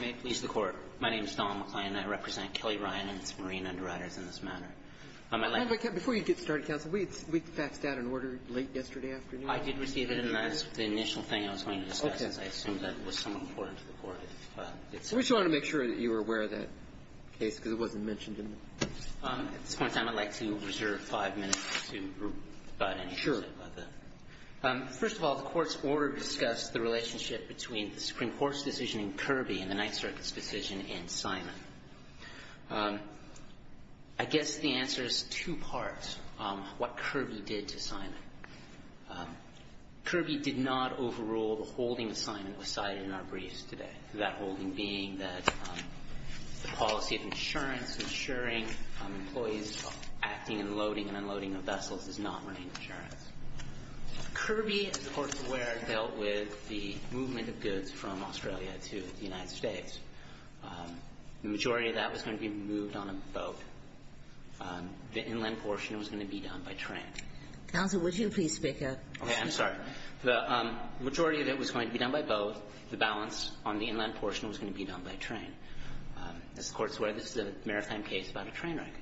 May it please the Court. My name is Don McClay, and I represent Kelly Ryan and its marine underwriters in this matter. Before you get started, counsel, we faxed out an order late yesterday afternoon. I did receive it, and that's the initial thing I was going to discuss, as I assumed that was somewhat important to the Court. We just wanted to make sure that you were aware of that case, because it wasn't mentioned in the case. At this point in time, I'd like to reserve five minutes to provide any insight about that. First of all, the Court's order discussed the relationship between the Supreme Court's decision in Kirby and the Ninth Circuit's decision in Simon. I guess the answer is two-part, what Kirby did to Simon. Kirby did not overrule the holding that Simon was cited in our briefs today, that holding being that the policy of insurance, ensuring employees' acting and loading and unloading of vessels is not running insurance. Kirby, as the Court's aware, dealt with the movement of goods from Australia to the United States. The majority of that was going to be moved on a boat. The inland portion was going to be done by train. Counsel, would you please speak up? Okay. I'm sorry. The majority of it was going to be done by boat. The balance on the inland portion was going to be done by train. As the Court's aware, this is a maritime case about a train wreck.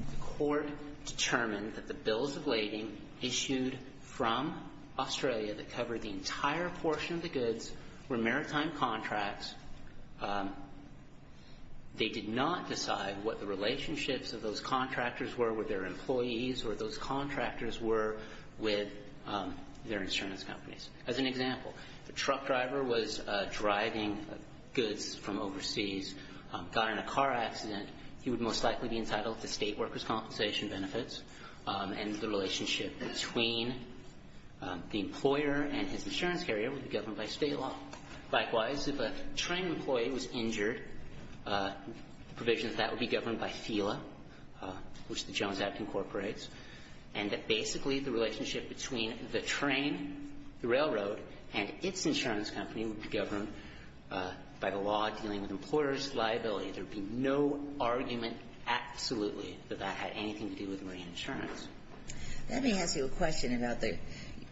The Court determined that the bills of lading issued from Australia that covered the entire portion of the goods were maritime contracts. They did not decide what the relationships of those contractors were with their employees or those contractors were with their insurance companies. As an example, if a truck driver was driving goods from overseas, got in a car accident, he would most likely be entitled to state workers' compensation benefits. And the relationship between the employer and his insurance carrier would be governed by state law. Likewise, if a train employee was injured, provisions of that would be governed by FELA, which the Jones Act incorporates. And basically, the relationship between the train, the railroad, and its insurance company would be governed by the law dealing with employers' liability. There would be no argument, absolutely, that that had anything to do with marine insurance. Let me ask you a question about the, you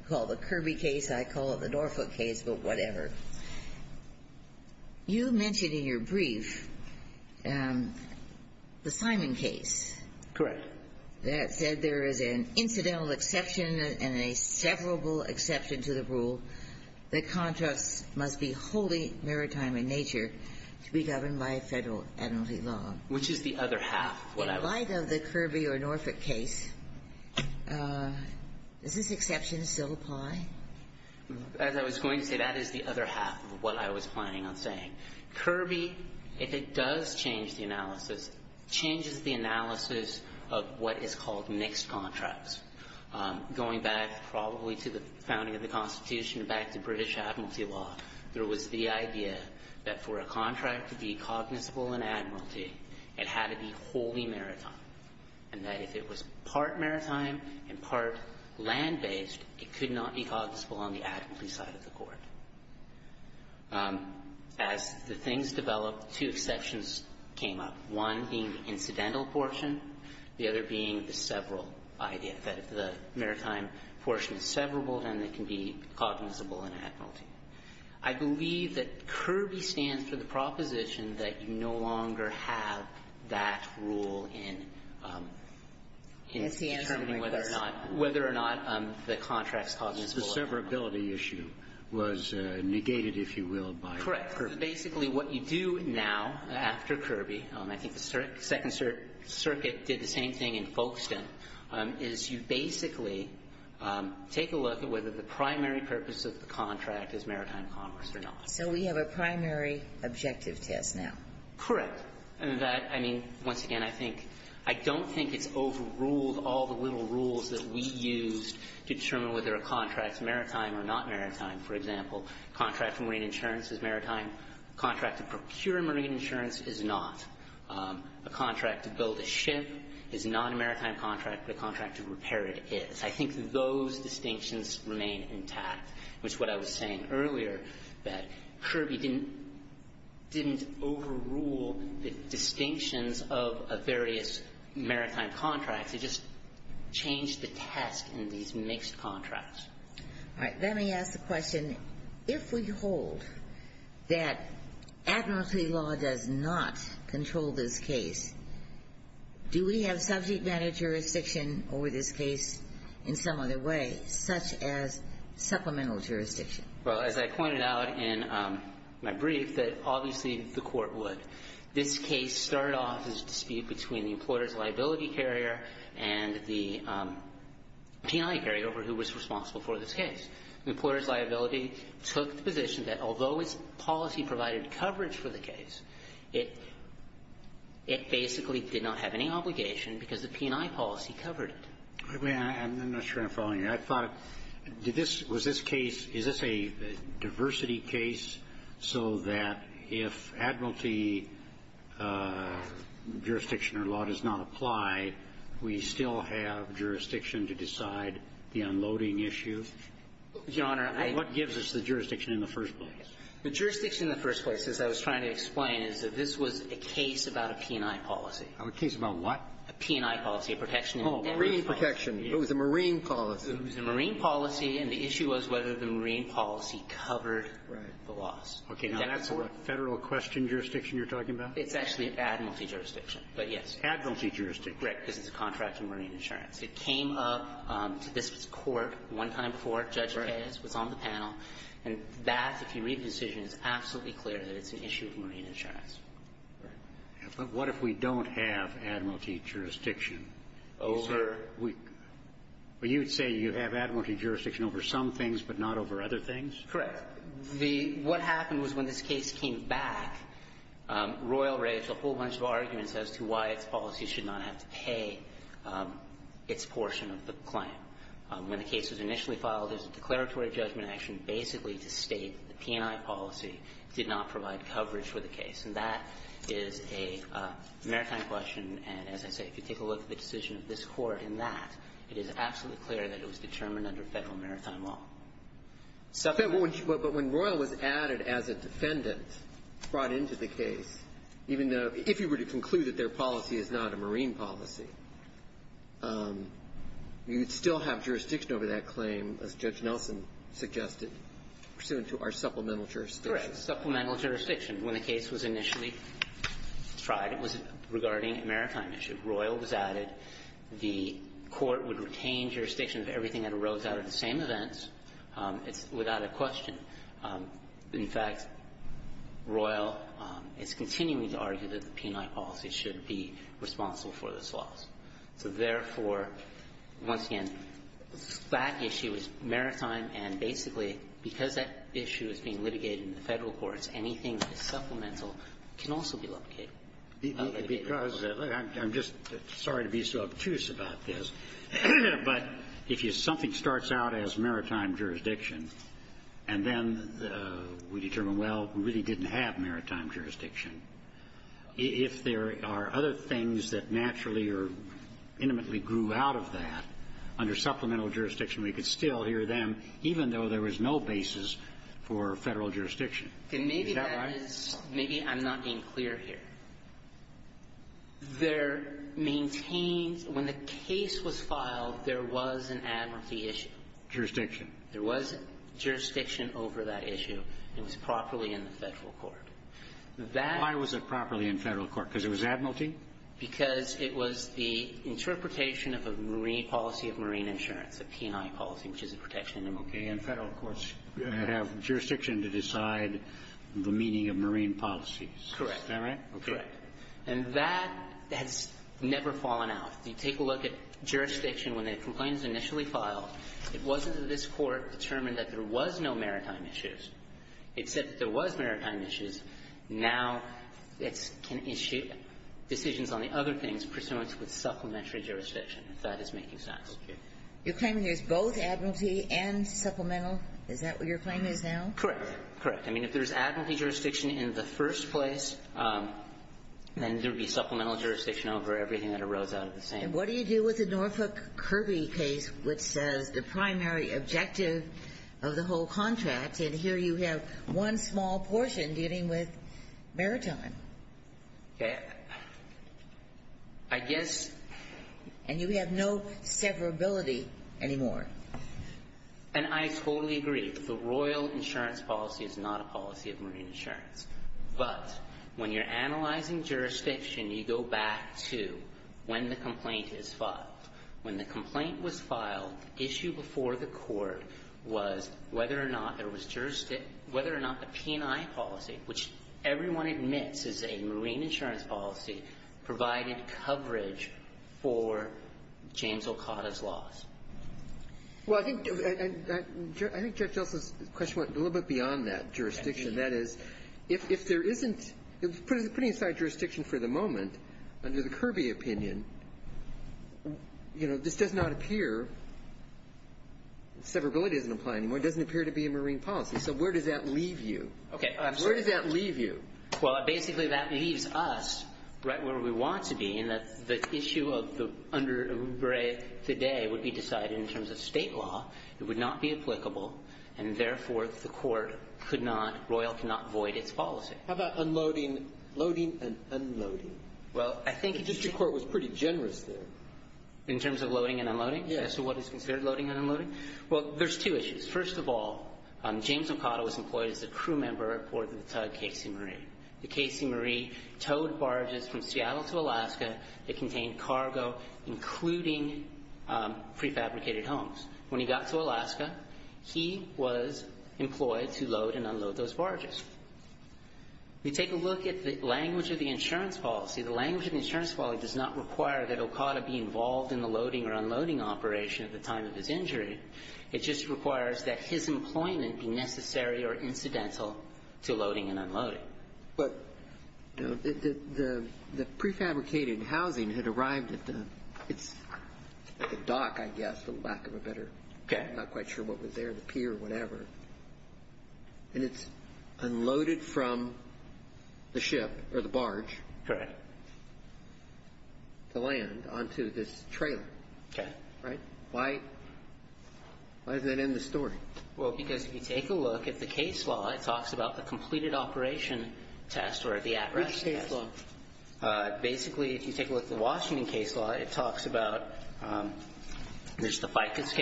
call it the Kirby case, I call it the Norfolk case, but whatever. You mentioned in your brief the Simon case. Correct. That said, there is an incidental exception and a severable exception to the rule that contracts must be wholly maritime in nature to be governed by a federal entity law. Which is the other half of what I was. In light of the Kirby or Norfolk case, does this exception still apply? As I was going to say, that is the other half of what I was planning on saying. Kirby, if it does change the analysis, changes the analysis of what is called mixed contracts. Going back probably to the founding of the Constitution, back to British Admiralty law, there was the idea that for a contract to be cognizable in Admiralty, it had to be wholly maritime. And that if it was part maritime and part land-based, it could not be cognizable on the Admiralty side of the court. As the things developed, two exceptions came up. One being the incidental portion. The other being the severable idea, that if the maritime portion is severable, then it can be cognizable in Admiralty. I believe that Kirby stands for the proposition that you no longer have that rule in determining whether or not the contract is cognizable. The severability issue was negated, if you will, by Kirby. Correct. Basically, what you do now, after Kirby, I think the Second Circuit did the same thing in Folkestone, is you basically take a look at whether the primary purpose of the contract is maritime commerce or not. So we have a primary objective test now. Correct. And that, I mean, once again, I think — I don't think it's overruled all the little rules that we used to determine whether a contract's maritime or not maritime. For example, a contract for marine insurance is maritime. A contract to procure marine insurance is not. A contract to build a ship is not a maritime contract, but a contract to repair it is. I think those distinctions remain intact. Which is what I was saying earlier, that Kirby didn't overrule the distinctions of various maritime contracts. It just changed the test in these mixed contracts. All right. Let me ask the question, if we hold that Admiralty law does not control this case, do we have subject matter jurisdiction over this case in some other way, such as supplemental jurisdiction? Well, as I pointed out in my brief, that obviously the Court would. This case started off as a dispute between the employer's liability carrier and the P&I carrier over who was responsible for this case. The employer's liability took the position that although its policy provided coverage for the case, it basically did not have any obligation because the P&I policy covered it. I'm not sure I'm following you. I thought, was this case, is this a diversity case so that if Admiralty jurisdiction or law does not apply, we still have jurisdiction to decide the unloading issue? Your Honor, I. What gives us the jurisdiction in the first place? The jurisdiction in the first place, as I was trying to explain, is that this was a case about a P&I policy. A case about what? A P&I policy, a protection in the airways policy. Oh, marine protection. It was a marine policy. It was a marine policy, and the issue was whether the marine policy covered the loss. Okay. Now, that's a Federal question jurisdiction you're talking about? It's actually an Admiralty jurisdiction, but yes. Admiralty jurisdiction. Correct, because it's a contract in marine insurance. It came up to this Court one time before. And that, if you read the decision, is absolutely clear that it's an issue of marine insurance. But what if we don't have Admiralty jurisdiction? Over? You'd say you have Admiralty jurisdiction over some things but not over other things? Correct. What happened was when this case came back, Royal raised a whole bunch of arguments as to why its policy should not have to pay its portion of the claim. When the case was initially filed, there's a declaratory judgment action basically to state the P&I policy did not provide coverage for the case. And that is a maritime question. And as I say, if you take a look at the decision of this Court in that, it is absolutely clear that it was determined under Federal maritime law. But when Royal was added as a defendant, brought into the case, even though if you were to conclude that their policy is not a marine policy, you'd still have jurisdiction over that claim, as Judge Nelson suggested, pursuant to our supplemental jurisdiction. Correct. Supplemental jurisdiction. When the case was initially tried, it was regarding a maritime issue. Royal was added. The Court would retain jurisdiction of everything that arose out of the same events without a question. In fact, Royal is continuing to argue that the P&I policy should be responsible for this loss. So therefore, once again, that issue is maritime, and basically because that issue is being litigated in the Federal courts, anything that is supplemental can also be litigated. Because I'm just sorry to be so obtuse about this, but if something starts out as maritime jurisdiction, and then we determine, well, we really didn't have maritime jurisdiction, if there are other things that naturally or intimately grew out of that under supplemental jurisdiction, we could still hear them, even though there was no basis for Federal jurisdiction. Is that right? Maybe I'm not being clear here. There maintains, when the case was filed, there was an advocacy issue. Jurisdiction. There was jurisdiction over that issue, and it was properly in the Federal court. That Why was it properly in Federal court? Because it was admiralty? Because it was the interpretation of a marine policy of marine insurance, a P&I policy, which is a protection of the marines. Okay. And Federal courts have jurisdiction to decide the meaning of marine policies. Correct. Is that right? Correct. Okay. And that has never fallen out. You take a look at jurisdiction. When the complaint was initially filed, it wasn't that this Court determined that there was no maritime issues. It said that there was maritime issues. Now it can issue decisions on the other things pursuant to the supplementary jurisdiction, if that is making sense. Okay. You're claiming there's both admiralty and supplemental? Is that what your claim is now? Correct. Correct. I mean, if there's admiralty jurisdiction in the first place, then there would be supplemental jurisdiction over everything that arose out of the same. And what do you do with the Norfolk Kirby case, which says the primary objective of the whole contract, and here you have one small portion dealing with maritime? Okay. I guess. And you have no severability anymore. And I totally agree. The Royal Insurance Policy is not a policy of marine insurance. But when you're analyzing jurisdiction, you go back to when the complaint is filed. When the complaint was filed, the issue before the Court was whether or not there was jurisdiction, whether or not the P&I policy, which everyone admits is a marine insurance policy, provided coverage for James Olcotta's laws. Well, I think Justice's question went a little bit beyond that, jurisdiction. That is, if there isn't – putting aside jurisdiction for the moment, under the Kirby opinion, you know, this does not appear – severability doesn't apply anymore. It doesn't appear to be a marine policy. So where does that leave you? Okay. Where does that leave you? Well, basically that leaves us right where we want to be in that the issue of the under Oubre today would be decided in terms of state law. It would not be applicable. And therefore, the Court could not – Royal could not void its policy. How about unloading – loading and unloading? Well, I think – The district court was pretty generous there. In terms of loading and unloading? Yes. As to what is considered loading and unloading? Well, there's two issues. First of all, James Olcotta was employed as a crew member aboard the tug Casey Marie. The Casey Marie towed barges from Seattle to Alaska that contained cargo, including prefabricated homes. When he got to Alaska, he was employed to load and unload those barges. We take a look at the language of the insurance policy. The language of the insurance policy does not require that Olcotta be involved in the loading or unloading operation at the time of his injury. It just requires that his employment be necessary or incidental to loading and unloading. But the prefabricated housing had arrived at the dock, I guess, for lack of a better – I'm not quite sure what was there, the pier, whatever. And it's unloaded from the ship or the barge – Correct. – to land onto this trailer. Okay. Right? Why does that end the story? Well, because if you take a look at the case law, it talks about the completed operation test or the at-risk test. Which case law? Basically, if you take a look at the Washington case law, it talks about – there's the FICUS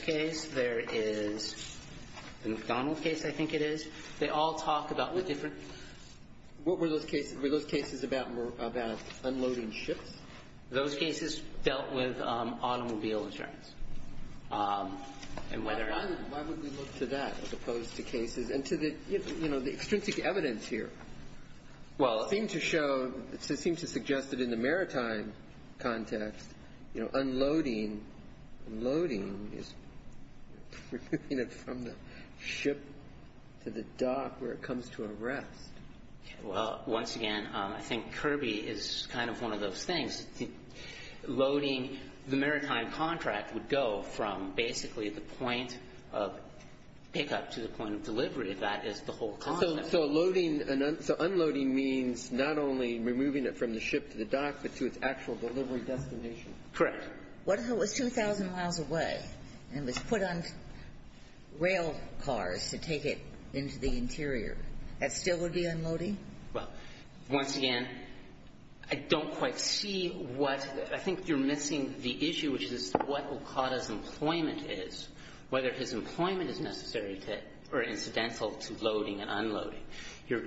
case. There is the McDonald case, I think it is. They all talk about the different – What were those cases? Were those cases about unloading ships? Those cases dealt with automobile insurance. And whether – Why would we look to that as opposed to cases? And to the, you know, the extrinsic evidence here. Well, it seems to show – it seems to suggest that in the maritime context, you know, unloading – loading is removing it from the ship to the dock where it comes to a rest. Well, once again, I think Kirby is kind of one of those things. Loading – the maritime contract would go from basically the point of pickup to the point of delivery. That is the whole concept. So loading – so unloading means not only removing it from the ship to the dock, but to its actual delivery destination. Correct. What if it was 2,000 miles away and it was put on rail cars to take it into the interior? That still would be unloading? Well, once again, I don't quite see what – I think you're missing the issue, which is what Okada's employment is, whether his employment is necessary to – or incidental to loading and unloading. You're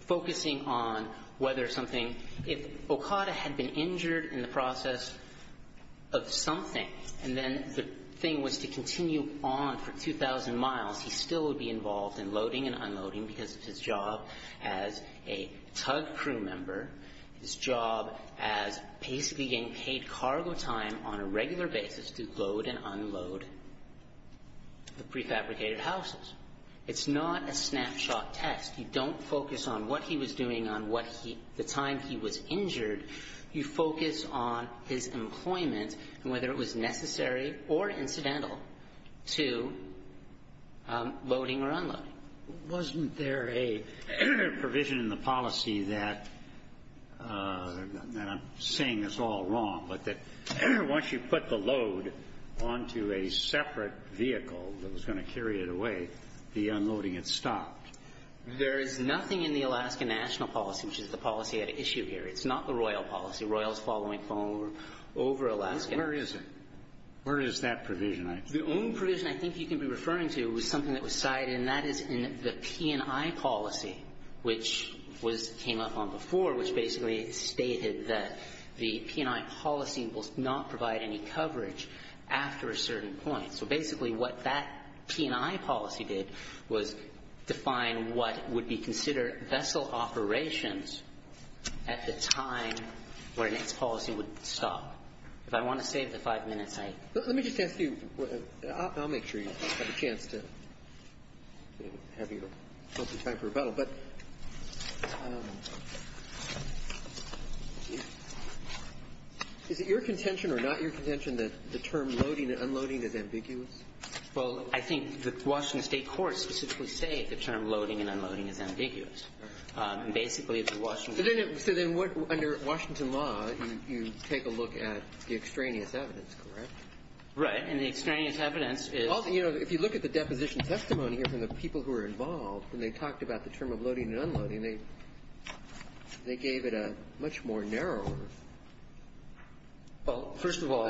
focusing on whether something – if Okada had been injured in the process of something and then the thing was to continue on for 2,000 miles, he still would be involved in loading and unloading because it's his job as a tug crew member, his job as basically getting paid cargo time on a regular basis to load and unload the prefabricated houses. It's not a snapshot test. You don't focus on what he was doing on what he – the time he was injured. You focus on his employment and whether it was necessary or incidental to loading or unloading. Wasn't there a provision in the policy that – and I'm saying it's all wrong, but that once you put the load onto a separate vehicle that was going to carry it away, the unloading had stopped? There is nothing in the Alaska national policy, which is the policy at issue here. It's not the Royal policy. Royal is following phone over Alaska. Where is it? Where is that provision? The only provision I think you can be referring to is something that was cited, and that is in the P&I policy, which was – came up on before, which basically stated that the P&I policy will not provide any coverage after a certain point. So basically what that P&I policy did was define what would be considered vessel operations at the time when its policy would stop. If I want to save the five minutes, I – Let me just ask you – I'll make sure you have a chance to have your time for rebuttal. But is it your contention or not your contention that the term loading and unloading is ambiguous? Well, I think the Washington State courts specifically say the term loading and unloading is ambiguous. And basically, if the Washington – So then what – under Washington law, you take a look at the extraneous evidence, correct? Right. And the extraneous evidence is – Well, you know, if you look at the deposition testimony here from the people who were involved, when they talked about the term of loading and unloading, they gave it a much more narrower – Well, first of all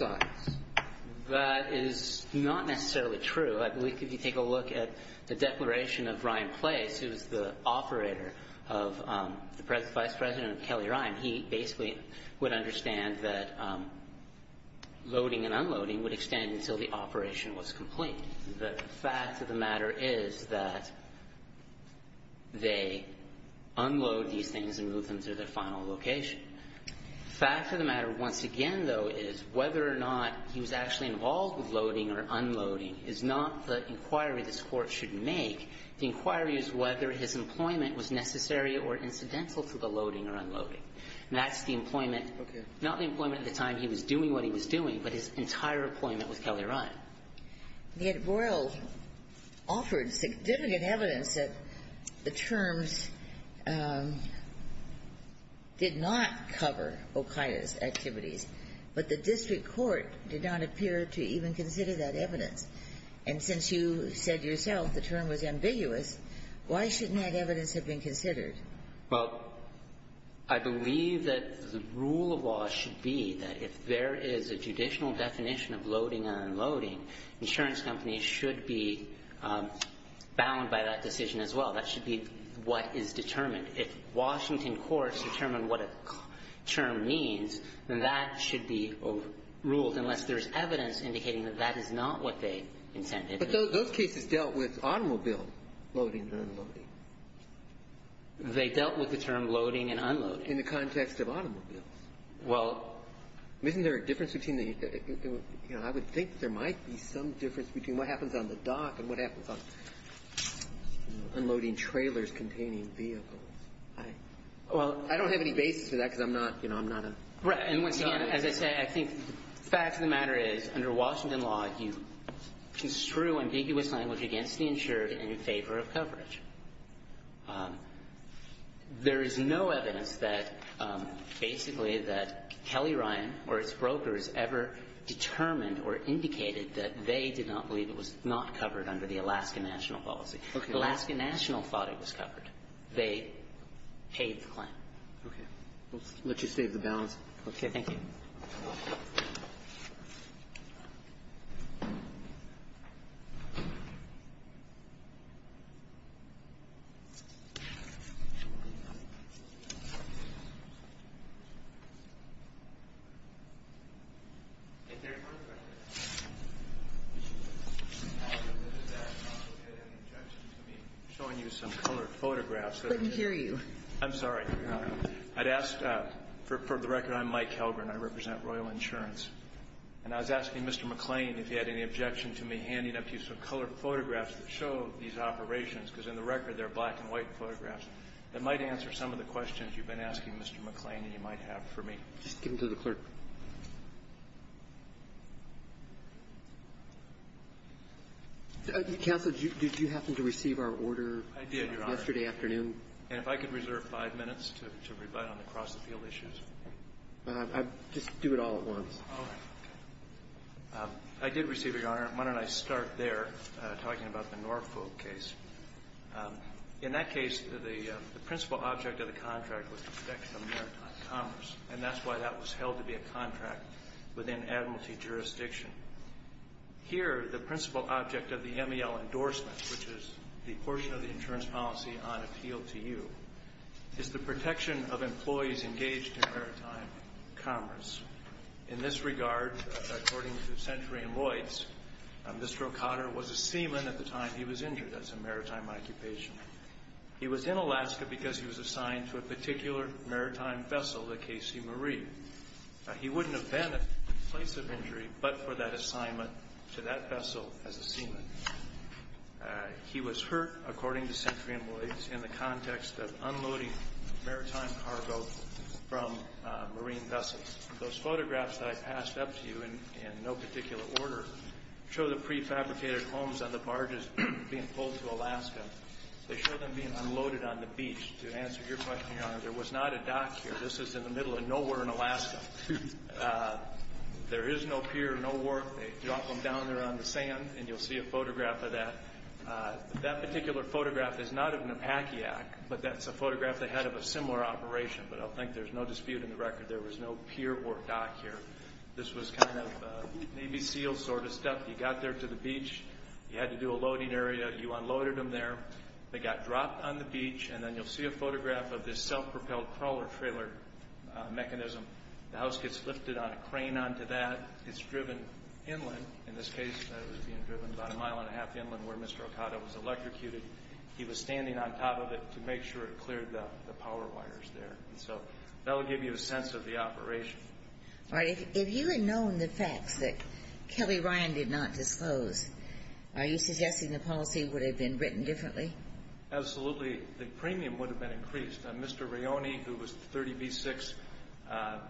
– That is not necessarily true. I believe if you take a look at the declaration of Ryan Place, who was the operator of the vice president of Kelly Ryan, he basically would understand that loading and unloading would extend until the operation was complete. The fact of the matter is that they unload these things and move them to their final location. The fact of the matter once again, though, is whether or not he was actually involved with loading or unloading is not the inquiry this Court should make. The inquiry is whether his employment was necessary or incidental to the loading or unloading. And that's the employment – Okay. Not the employment at the time he was doing what he was doing, but his entire employment with Kelly Ryan. The Ed Boyle offered significant evidence that the terms did not cover Okaiya's activities, but the district court did not appear to even consider that evidence. And since you said yourself the term was ambiguous, why shouldn't that evidence have been considered? Well, I believe that the rule of law should be that if there is a judicial definition of loading and unloading, insurance companies should be bound by that decision as well. That should be what is determined. If Washington courts determine what a term means, then that should be ruled, unless there's evidence indicating that that is not what they intended. But those cases dealt with automobile loading and unloading. They dealt with the term loading and unloading. In the context of automobiles. Well, isn't there a difference between the – you know, I would think there might be some difference between what happens on the dock and what happens on unloading trailers containing vehicles. I don't have any basis for that because I'm not, you know, I'm not a – Right. And once again, as I say, I think the fact of the matter is, under Washington law, you construe ambiguous language against the insurer in favor of coverage. There is no evidence that basically that Kelly Ryan or its brokers ever determined or indicated that they did not believe it was not covered under the Alaska national policy. Okay. Alaska National thought it was covered. They paid the claim. Okay. We'll let you save the balance. Okay. Thank you. Thank you. I'm showing you some colored photographs. I couldn't hear you. I'm sorry. I'd ask – for the record, I'm Mike Helgren. I represent Royal Insurance. And I was asking Mr. McClain if he had any objection to me handing up to you some colored photographs that show these operations, because in the record they're black and white photographs, that might answer some of the questions you've been asking, Mr. McClain, and you might have for me. Just give them to the clerk. I did, Your Honor. And if I could reserve five minutes to rebutt on the cross-appeal issues. Just do it all at once. All right. I did receive it, Your Honor. Why don't I start there, talking about the Norfolk case. In that case, the principal object of the contract was the protection of maritime commerce, and that's why that was held to be a contract within admiralty jurisdiction. Here, the principal object of the MEL endorsement, which is the portion of the insurance policy on appeal to you, is the protection of employees engaged in maritime commerce. In this regard, according to Century and Lloyds, Mr. O'Connor was a seaman at the time he was injured as a maritime occupation. He was in Alaska because he was assigned to a particular maritime vessel, the KC Marie. He wouldn't have been at the place of injury but for that assignment to that vessel as a seaman. He was hurt, according to Century and Lloyds, in the context of unloading maritime cargo from marine vessels. Those photographs that I passed up to you in no particular order show the prefabricated homes on the barges being pulled to Alaska. They show them being unloaded on the beach. To answer your question, Your Honor, there was not a dock here. This is in the middle of nowhere in Alaska. There is no pier, no wharf. They drop them down there on the sand. You'll see a photograph of that. That particular photograph is not of an Apakiak, but that's a photograph they had of a similar operation. I think there's no dispute in the record. There was no pier or dock here. This was kind of Navy SEAL sort of stuff. You got there to the beach. You had to do a loading area. You unloaded them there. They got dropped on the beach. Then you'll see a photograph of this self-propelled crawler-trailer mechanism. The house gets lifted on a crane onto that. It's driven inland. In this case, it was being driven about a mile and a half inland where Mr. Okada was electrocuted. He was standing on top of it to make sure it cleared the power wires there. That will give you a sense of the operation. All right. If you had known the facts that Kelly Ryan did not disclose, are you suggesting the policy would have been written differently? Absolutely. The premium would have been increased. Mr. Rione, who was the 30B6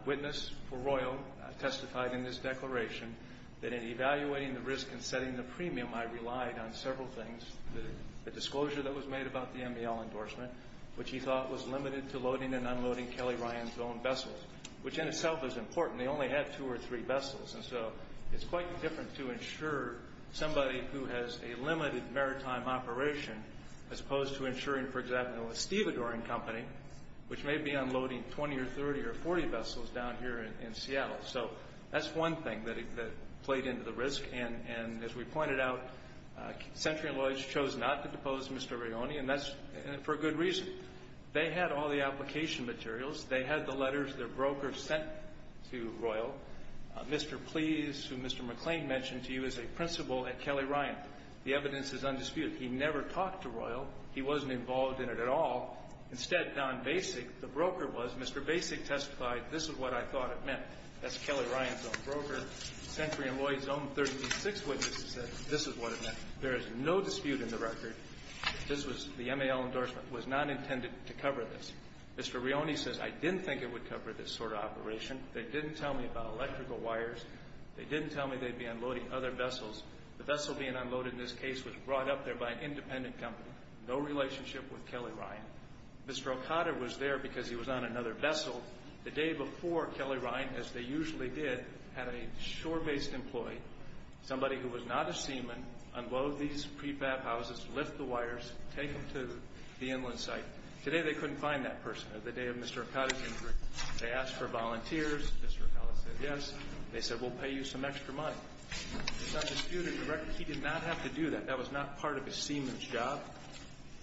witness for Royal, testified in his declaration that in evaluating the risk and setting the premium, I relied on several things. The disclosure that was made about the MBL endorsement, which he thought was limited to loading and unloading Kelly Ryan's own vessels, which in itself is important. They only had two or three vessels. It's quite different to insure somebody who has a limited maritime operation as opposed to insuring, for example, a stevedoring company, which may be unloading 20 or 30 or 40 vessels down here in Seattle. That's one thing that played into the risk. As we pointed out, Century & Lloyds chose not to depose Mr. Rione for good reason. They had all the application materials. They had the letters their broker sent to Royal. Mr. Pleas, who Mr. McLean mentioned to you, is a principal at Kelly Ryan. The evidence is undisputed. He never talked to Royal. He wasn't involved in it at all. Instead, Don Basick, the broker, was. Mr. Basick testified, this is what I thought it meant. That's Kelly Ryan's own broker. Century & Lloyds' own 36 witnesses said this is what it meant. There is no dispute in the record. This was the MBL endorsement. It was not intended to cover this. Mr. Rione says, I didn't think it would cover this sort of operation. They didn't tell me about electrical wires. They didn't tell me they'd be unloading other vessels. The vessel being unloaded in this case was brought up there by an independent company. No relationship with Kelly Ryan. Mr. Okada was there because he was on another vessel. The day before, Kelly Ryan, as they usually did, had a shore-based employee, somebody who was not a seaman, unload these prefab houses, lift the wires, take them to the inland site. Today they couldn't find that person. It was the day of Mr. Okada's injury. They asked for volunteers. Mr. Okada said yes. They said we'll pay you some extra money. It's not disputed in the record. He did not have to do that. That was not part of his seaman's job.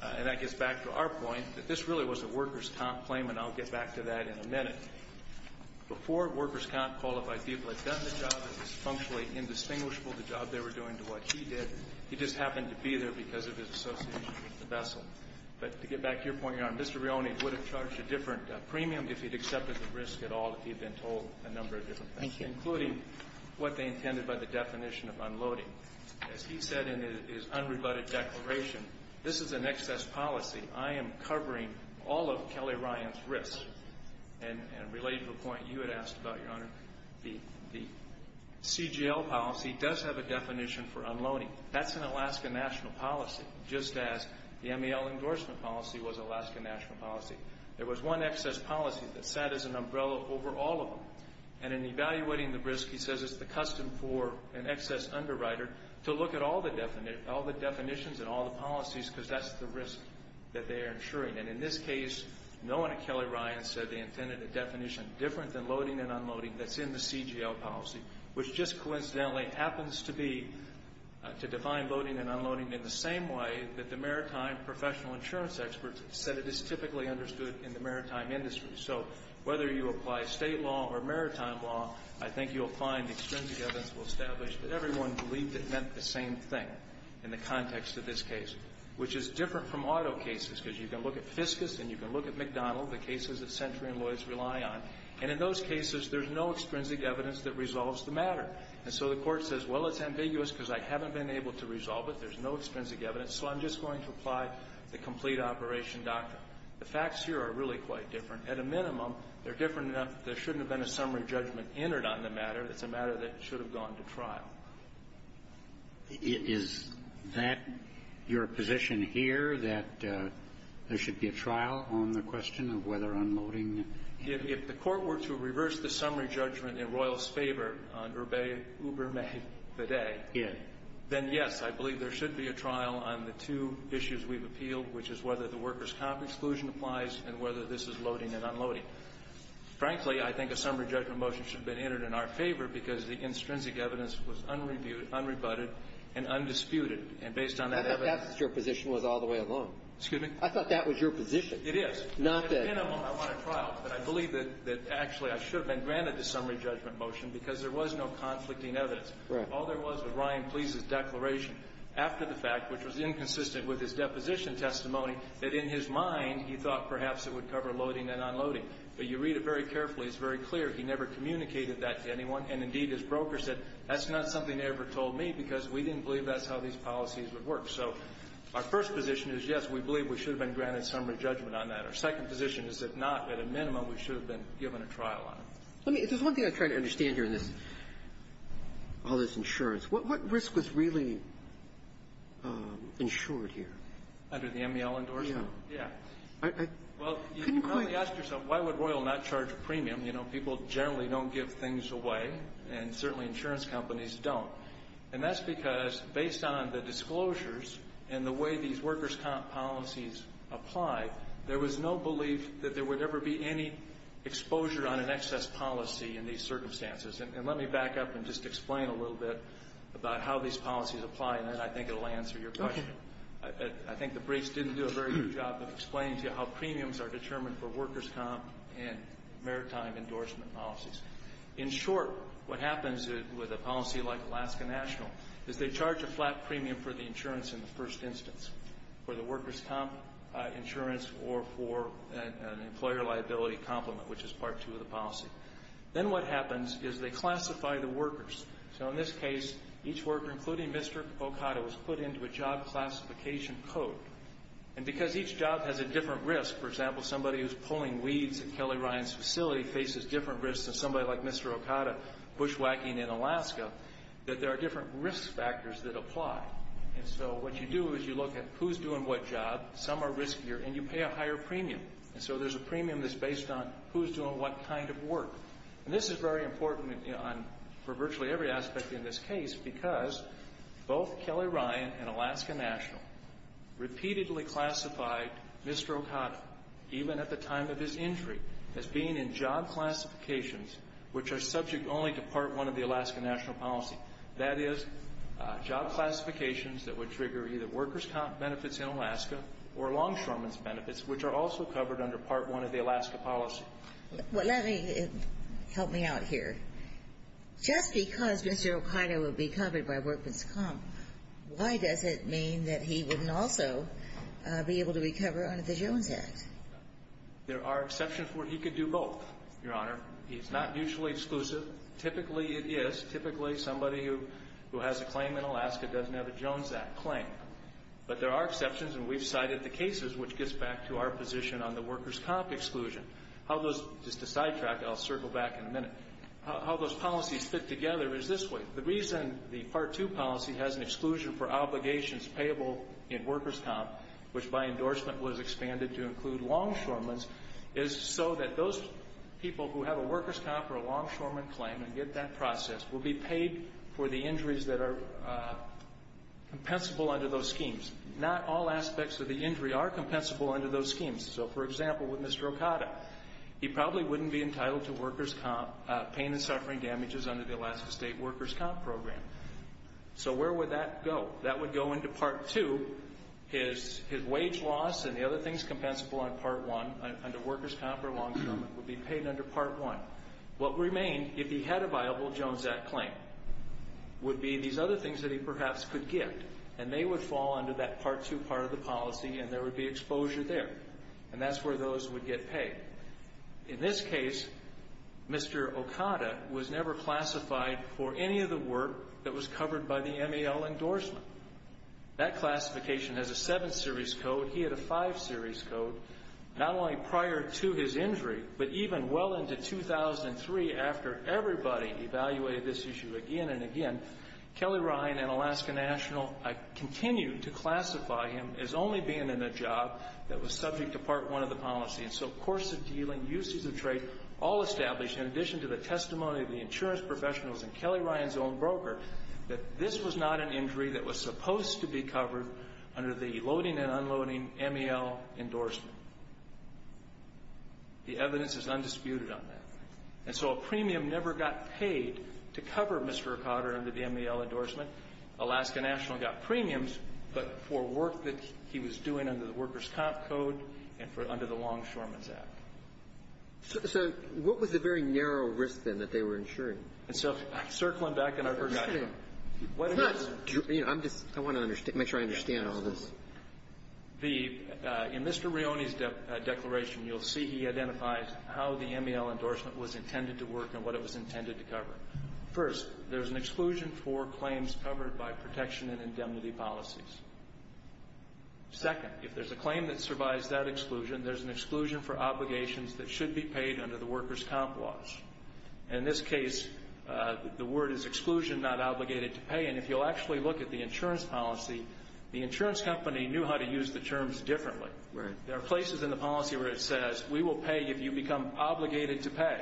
And that gets back to our point that this really was a workers' comp claim, and I'll get back to that in a minute. Before workers' comp qualified people had done the job, it was functionally indistinguishable, the job they were doing to what he did. He just happened to be there because of his association with the vessel. But to get back to your point, Your Honor, Mr. Rione would have charged a different premium if he'd accepted the risk at all, if he had been told a number of different things, including what they intended by the definition of unloading. As he said in his unrebutted declaration, this is an excess policy. I am covering all of Kelly Rione's risks. And related to the point you had asked about, Your Honor, the CGL policy does have a definition for unloading. That's an Alaska national policy, just as the MEL endorsement policy was Alaska national policy. There was one excess policy that sat as an umbrella over all of them. And in evaluating the risk, he says it's the custom for an excess underwriter to look at all the definitions and all the policies because that's the risk that they are insuring. And in this case, no one at Kelly Rione said they intended a definition different than loading and unloading that's in the CGL policy, which just coincidentally happens to be to define loading and unloading in the same way that the maritime professional insurance experts said it is typically understood in the maritime industry. So whether you apply state law or maritime law, I think you'll find extrinsic evidence will establish that everyone believed it meant the same thing in the context of this case, which is different from auto cases because you can look at Fiscus and you can look at McDonald, the cases that Century and Lloyds rely on, and in those cases, there's no extrinsic evidence that resolves the matter. And so the Court says, well, it's ambiguous because I haven't been able to resolve it. There's no extrinsic evidence. So I'm just going to apply the complete operation doctrine. The facts here are really quite different. At a minimum, they're different enough that there shouldn't have been a summary judgment entered on the matter. It's a matter that should have gone to trial. Roberts. Is that your position here, that there should be a trial on the question of whether unloading? If the Court were to reverse the summary judgment in Royal's favor on Uber May the day, then, yes, I believe there should be a trial on the two issues we've appealed, which is whether the workers' comp exclusion applies and whether this is loading and unloading. Frankly, I think a summary judgment motion should have been entered in our favor because the extrinsic evidence was unrebutted and undisputed. And based on that evidence ---- That's what your position was all the way along. Excuse me? I thought that was your position. It is. Not that ---- At a minimum, I want a trial. But I believe that actually I should have been granted the summary judgment motion because there was no conflicting evidence. All there was was Ryan Please's declaration after the fact, which was inconsistent with his deposition testimony, that in his mind he thought perhaps it would cover loading and unloading. But you read it very carefully. It's very clear. He never communicated that to anyone. And, indeed, his broker said, that's not something they ever told me because we didn't believe that's how these policies would work. So our first position is, yes, we believe we should have been granted summary judgment on that. Our second position is, if not, at a minimum, we should have been given a trial on it. Let me ---- if there's one thing I'm trying to understand here in this, all this insurance, what risk was really insured here? Under the MEL endorsement? Yeah. Yeah. I couldn't quite ---- Well, you've probably asked yourself, why would Royal not charge a premium? You know, people generally don't give things away, and certainly insurance companies don't. And that's because, based on the disclosures and the way these workers' comp policies apply, there was no belief that there would ever be any exposure on an excess policy in these circumstances. And let me back up and just explain a little bit about how these policies apply, and then I think it will answer your question. Okay. I think the briefs didn't do a very good job of explaining to you how premiums are determined for workers' comp and maritime endorsement policies. In short, what happens with a policy like Alaska National is they charge a flat premium for the insurance in the first instance, for the workers' comp insurance or for an employer liability complement, which is part two of the policy. Then what happens is they classify the workers. So in this case, each worker, including Mr. Okada, was put into a job classification code. And because each job has a different risk, for example, somebody who's pulling weeds at Kelly Ryan's facility faces different risks than somebody like Mr. Okada bushwhacking in Alaska, that there are different risk factors that apply. And so what you do is you look at who's doing what job, some are riskier, and you pay a higher premium. And so there's a premium that's based on who's doing what kind of work. And this is very important for virtually every aspect in this case because both Kelly Ryan and Alaska National repeatedly classified Mr. Okada, even at the time of his injury, as being in job classifications which are subject only to part one of the Alaska National policy. That is job classifications that would trigger either workers' comp benefits in Alaska or longshoreman's benefits, which are also covered under part one of the Alaska policy. Let me help me out here. Just because Mr. Okada would be covered by workers' comp, why does it mean that he wouldn't also be able to recover under the Jones Act? There are exceptions where he could do both, Your Honor. He's not mutually exclusive. Typically it is. Typically somebody who has a claim in Alaska doesn't have a Jones Act claim. But there are exceptions, and we've cited the cases, which gets back to our position on the workers' comp exclusion. Just to sidetrack, I'll circle back in a minute, how those policies fit together is this way. The reason the part two policy has an exclusion for obligations payable in workers' comp, which by endorsement was expanded to include longshoreman's, is so that those people who have a workers' comp or a longshoreman claim and get that process will be paid for the injuries that are compensable under those schemes. Not all aspects of the injury are compensable under those schemes. So, for example, with Mr. Okada, he probably wouldn't be entitled to workers' comp pain and suffering damages under the Alaska State workers' comp program. So where would that go? That would go into part two. His wage loss and the other things compensable under workers' comp or longshoreman would be paid under part one. What remained, if he had a viable Jones Act claim, would be these other things that he perhaps could get, and they would fall under that part two part of the policy, and there would be exposure there, and that's where those would get paid. In this case, Mr. Okada was never classified for any of the work that was covered by the MAL endorsement. That classification has a seven-series code. He had a five-series code not only prior to his injury, but even well into 2003 after everybody evaluated this issue again and again. Kelly Ryan and Alaska National continued to classify him as only being in a job that was subject to part one of the policy, and so course of dealing, uses of trade, all established, in addition to the testimony of the insurance professionals and Kelly Ryan's own broker, that this was not an injury that was supposed to be covered under the loading and unloading MAL endorsement. The evidence is undisputed on that. And so a premium never got paid to cover Mr. Okada under the MAL endorsement. Alaska National got premiums, but for work that he was doing under the workers' comp code and for under the longshoreman's act. So what was the very narrow risk, then, that they were insuring? And so circling back, and I forgot your question. I want to make sure I understand all this. In Mr. Rione's declaration, you'll see he identifies how the MAL endorsement was intended to work and what it was intended to cover. First, there's an exclusion for claims covered by protection and indemnity policies. Second, if there's a claim that survives that exclusion, there's an exclusion for obligations that should be paid under the workers' comp laws. In this case, the word is exclusion, not obligated to pay. And if you'll actually look at the insurance policy, the insurance company knew how to use the terms differently. There are places in the policy where it says we will pay if you become obligated to pay.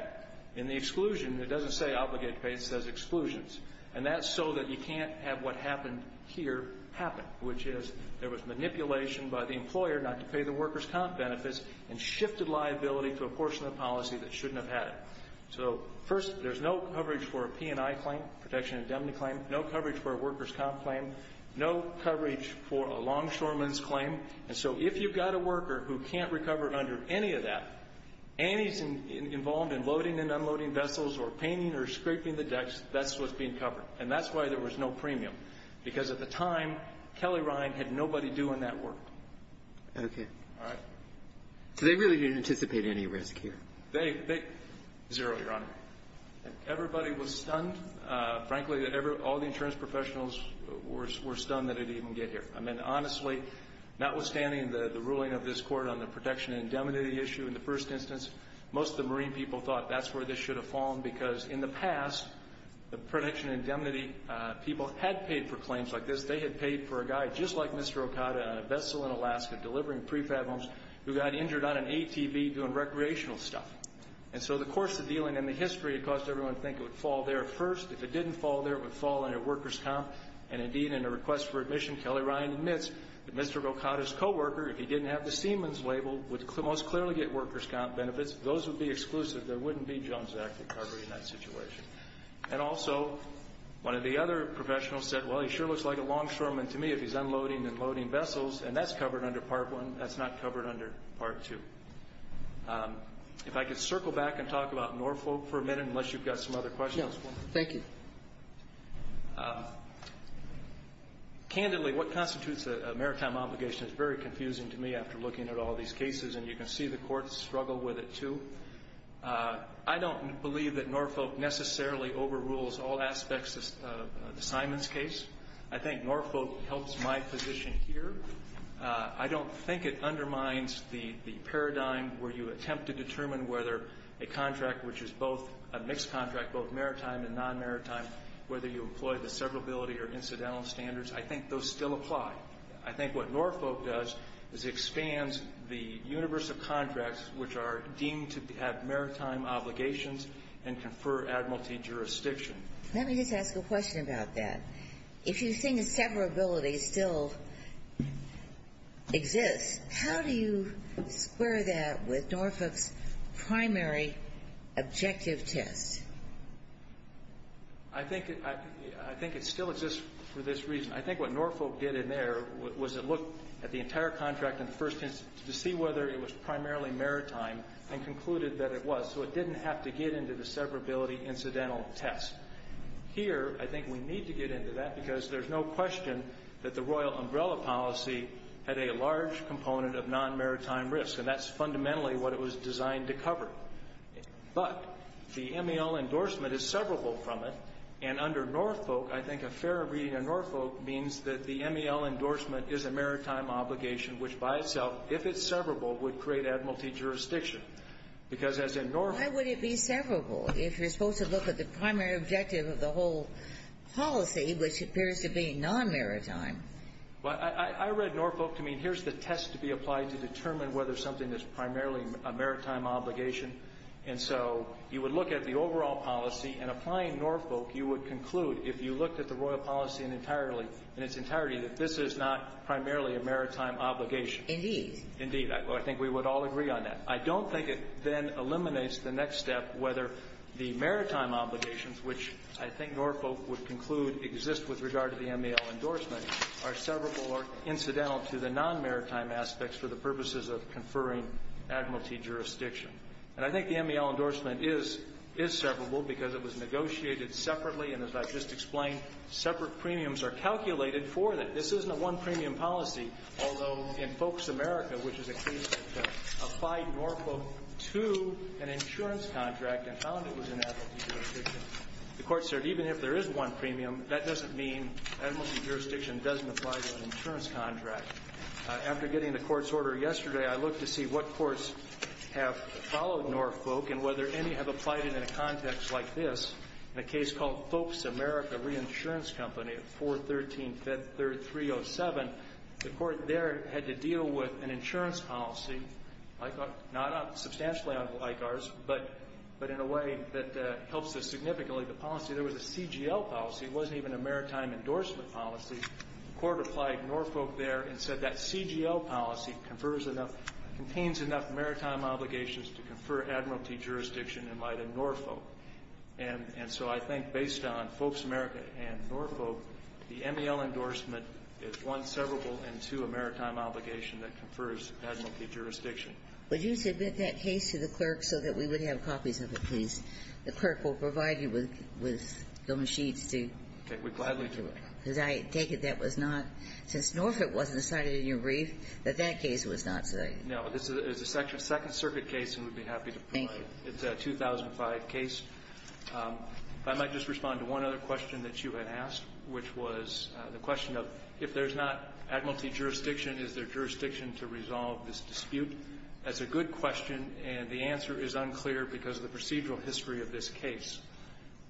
In the exclusion, it doesn't say obligated to pay. It says exclusions. And that's so that you can't have what happened here happen, which is there was a portion of the policy that shouldn't have had it. So, first, there's no coverage for a P&I claim, protection and indemnity claim, no coverage for a workers' comp claim, no coverage for a longshoreman's claim. And so if you've got a worker who can't recover under any of that, and he's involved in loading and unloading vessels or painting or scraping the decks, that's what's being covered. And that's why there was no premium, because at the time, Kelly Rione had nobody doing that work. Okay. All right. So they really didn't anticipate any risk here? They didn't. Zero, Your Honor. Everybody was stunned. Frankly, all the insurance professionals were stunned that it would even get here. I mean, honestly, notwithstanding the ruling of this Court on the protection and indemnity issue in the first instance, most of the marine people thought that's where this should have fallen, because in the past, the protection and indemnity people had paid for claims like this. They had paid for a guy just like Mr. Okada in a vessel in Alaska delivering prefab homes who got injured on an ATV doing recreational stuff. And so the course of dealing in the history caused everyone to think it would fall there first. If it didn't fall there, it would fall under workers' comp. And indeed, in a request for admission, Kelly Rione admits that Mr. Okada's coworker, if he didn't have the Seaman's label, would most clearly get workers' comp benefits. Those would be exclusive. There wouldn't be Jones Act recovery in that situation. And also, one of the other professionals said, well, he sure looks like a longshoreman to me if he's unloading and loading vessels, and that's covered under Part 1. That's not covered under Part 2. If I could circle back and talk about Norfolk for a minute, unless you've got some other questions for me. Thank you. Candidly, what constitutes a maritime obligation is very confusing to me after looking at all these cases, and you can see the courts struggle with it, too. I don't believe that Norfolk necessarily overrules all aspects of the Simons case. I think Norfolk helps my position here. I don't think it undermines the paradigm where you attempt to determine whether a contract which is both a mixed contract, both maritime and non-maritime, whether you employ the severability or incidental standards. I think those still apply. I think what Norfolk does is expands the universe of contracts which are deemed to have maritime obligations and confer admiralty jurisdiction. Let me just ask a question about that. If you think severability still exists, how do you square that with Norfolk's primary objective test? I think it still exists for this reason. I think what Norfolk did in there was it looked at the entire contract in the first instance to see whether it was primarily maritime and concluded that it was, so it didn't have to get into the severability incidental test. Here, I think we need to get into that because there's no question that the Royal Umbrella policy had a large component of non-maritime risk, and that's fundamentally what it was designed to cover. But the MEL endorsement is severable from it, and under Norfolk, I think a fairer reading of Norfolk means that the MEL endorsement is a maritime obligation, which by itself, if it's severable, would create admiralty jurisdiction. Because as in Norfolk ---- It's the primary objective of the whole policy, which appears to be non-maritime. Well, I read Norfolk to mean here's the test to be applied to determine whether something is primarily a maritime obligation. And so you would look at the overall policy, and applying Norfolk, you would conclude if you looked at the Royal policy entirely, in its entirety, that this is not primarily a maritime obligation. Indeed. I think we would all agree on that. I don't think it then eliminates the next step, whether the maritime obligations, which I think Norfolk would conclude exist with regard to the MEL endorsement, are severable or incidental to the non-maritime aspects for the purposes of conferring admiralty jurisdiction. And I think the MEL endorsement is severable because it was negotiated separately, and as I've just explained, separate premiums are calculated for that. This isn't a one-premium policy. Although in Folks America, which is a case that applied Norfolk to an insurance contract and found it was an admiralty jurisdiction, the Court said even if there is one premium, that doesn't mean admiralty jurisdiction doesn't apply to an insurance contract. After getting the Court's order yesterday, I looked to see what courts have followed Norfolk and whether any have applied it in a context like this, in a case called Folks America Reinsurance Company at 413-307. The Court there had to deal with an insurance policy, not substantially unlike ours, but in a way that helps us significantly. The policy, there was a CGL policy. It wasn't even a maritime endorsement policy. The Court applied Norfolk there and said that CGL policy contains enough maritime obligations to confer admiralty jurisdiction in light of Norfolk. And so I think based on Folks America and Norfolk, the MEL endorsement is one severable and two maritime obligation that confers admiralty jurisdiction. Would you submit that case to the clerk so that we would have copies of it, please? The clerk will provide you with government sheets to do it. Okay. We'd gladly do it. Because I take it that was not, since Norfolk wasn't cited in your brief, that that case was not cited. No. This is a Second Circuit case, and we'd be happy to provide it. Thank you. It's a 2005 case. If I might just respond to one other question that you had asked, which was the question of if there's not admiralty jurisdiction, is there jurisdiction to resolve this dispute? That's a good question, and the answer is unclear because of the procedural history of this case.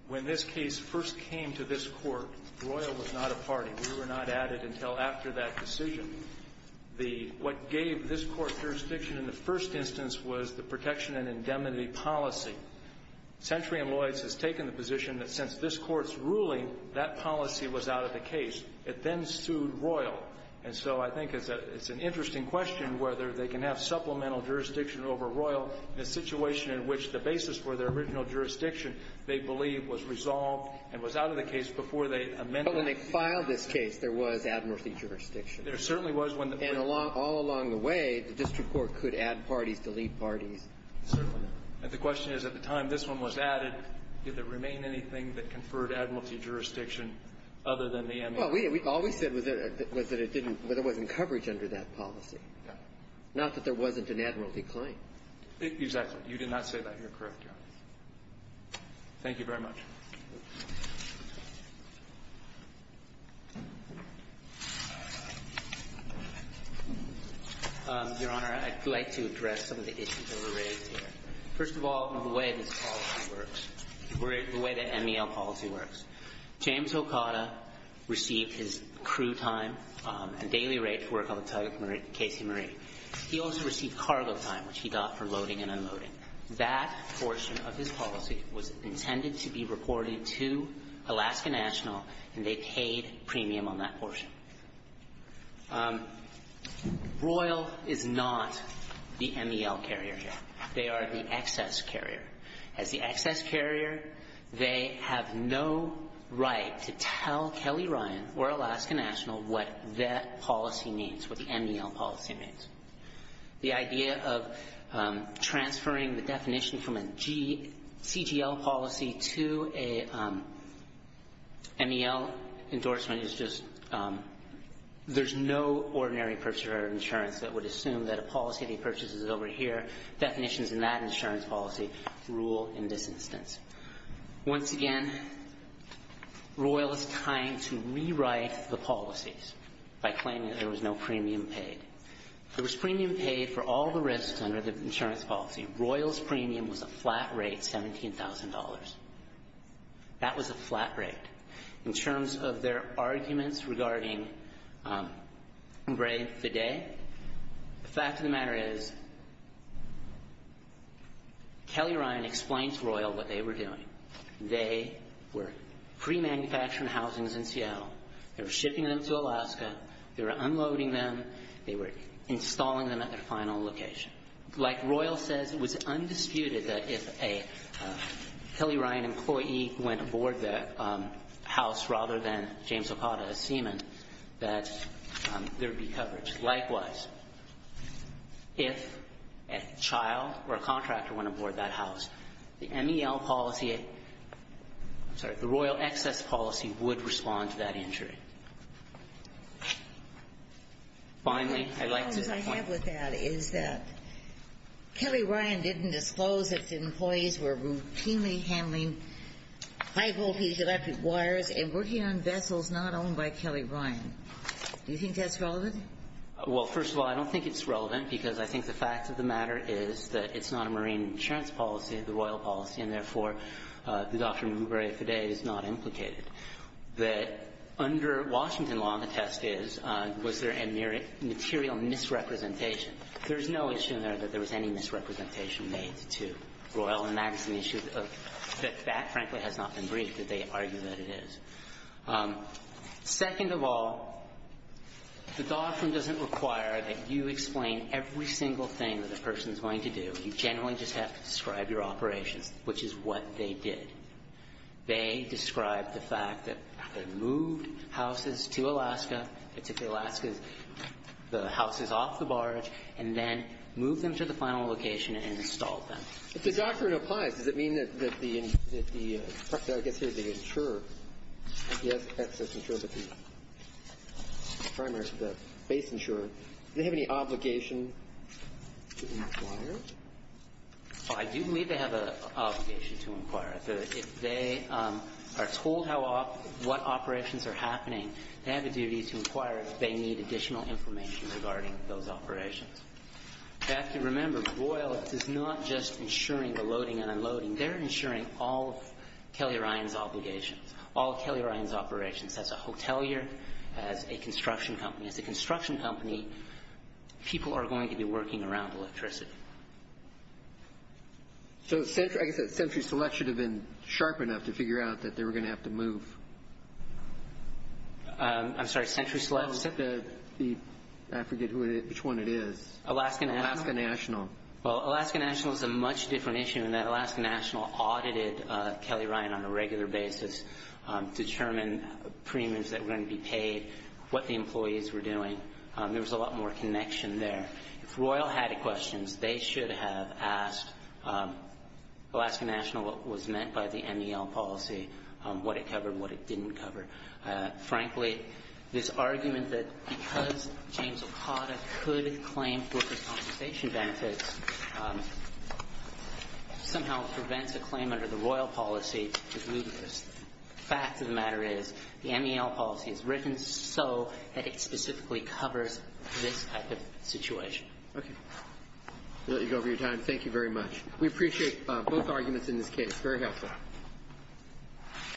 When this case first came to this Court, Royal was not a party. We were not added until after that decision. What gave this Court jurisdiction in the first instance was the protection and indemnity policy. Century & Lloyd's has taken the position that since this Court's ruling, that policy was out of the case. It then sued Royal. And so I think it's an interesting question whether they can have supplemental jurisdiction over Royal in a situation in which the basis for their original jurisdiction, they believe, was resolved and was out of the case before they amended it. But when they filed this case, there was admiralty jurisdiction. There certainly was. And all along the way, the district court could add parties, delete parties. Certainly not. And the question is, at the time this one was added, did there remain anything that conferred admiralty jurisdiction other than the MOU? Well, all we said was that it didn't, that there wasn't coverage under that policy. Not that there wasn't an admiralty claim. Exactly. You did not say that. You're correct, Your Honor. Thank you very much. Your Honor, I'd like to address some of the issues that were raised here. First of all, the way this policy works, the way the MEL policy works, James Okada received his crew time and daily rate to work on the tug at Casey Marie. He also received cargo time, which he got for loading and unloading. That portion of his policy was intended to be reported to Alaska National, and they paid premium on that portion. Royal is not the MEL carrier here. They are the excess carrier. As the excess carrier, they have no right to tell Kelly Ryan or Alaska National what that policy means, what the MEL policy means. The idea of transferring the definition from a CGL policy to a MEL endorsement is just, there's no ordinary purchaser of insurance that would assume that a policy that he purchases over here, definitions in that insurance policy, rule in this instance. Once again, Royal is trying to rewrite the policies by claiming that there was no premium paid. There was premium paid for all the risks under the insurance policy. Royal's premium was a flat rate, $17,000. That was a flat rate. In terms of their arguments regarding Bray Fide, the fact of the matter is, Kelly Ryan explained to Royal what they were doing. They were pre-manufacturing housings in CL. They were shipping them to Alaska. They were unloading them. They were installing them at their final location. Like Royal says, it was undisputed that if a Kelly Ryan employee went aboard the house rather than James Okada, a seaman, that there would be coverage. Likewise, if a child or a contractor went aboard that house, the MEL policy at the Royal excess policy would respond to that injury. Finally, I'd like to point out. The problem I have with that is that Kelly Ryan didn't disclose that the employees were routinely handling high-voltage electric wires and working on vessels not owned by Kelly Ryan. Do you think that's relevant? Well, first of all, I don't think it's relevant because I think the fact of the matter is that it's not a marine insurance policy, the Royal policy, and therefore the doctrine of Mubarek Fide is not implicated. Under Washington law, the test is, was there a material misrepresentation? There's no issue there that there was any misrepresentation made to Royal, and that's an issue that that, frankly, has not been briefed that they argue that it is. Second of all, the doctrine doesn't require that you explain every single thing that a person's going to do. You generally just have to describe your operations, which is what they did. They described the fact that they moved houses to Alaska. They took the Alaskans, the houses off the barge, and then moved them to the final location and installed them. If the doctrine applies, does it mean that the, I guess here the insurer, the excess insurer, the primary, the base insurer, do they have any obligation to the insurer to inquire? I do believe they have an obligation to inquire. If they are told how, what operations are happening, they have a duty to inquire if they need additional information regarding those operations. You have to remember, Royal is not just insuring the loading and unloading. They're insuring all of Kelly Ryan's obligations, all of Kelly Ryan's operations as a hotelier, as a construction company. As a construction company, people are going to be working around electricity. I guess that Century Select should have been sharp enough to figure out that they were going to have to move. I'm sorry, Century Select? I forget which one it is. Alaska National. Alaska National. Well, Alaska National is a much different issue in that Alaska National audited Kelly Ryan on a regular basis to determine premiums that were going to be paid, what the employees were doing. There was a lot more connection there. If Royal had questions, they should have asked Alaska National what was meant by the MEL policy, what it covered and what it didn't cover. Frankly, this argument that because James Okada could claim broker compensation fact of the matter is the MEL policy is written so that it specifically covers this type of situation. Okay. We'll let you go over your time. Thank you very much. We appreciate both arguments in this case. Very helpful.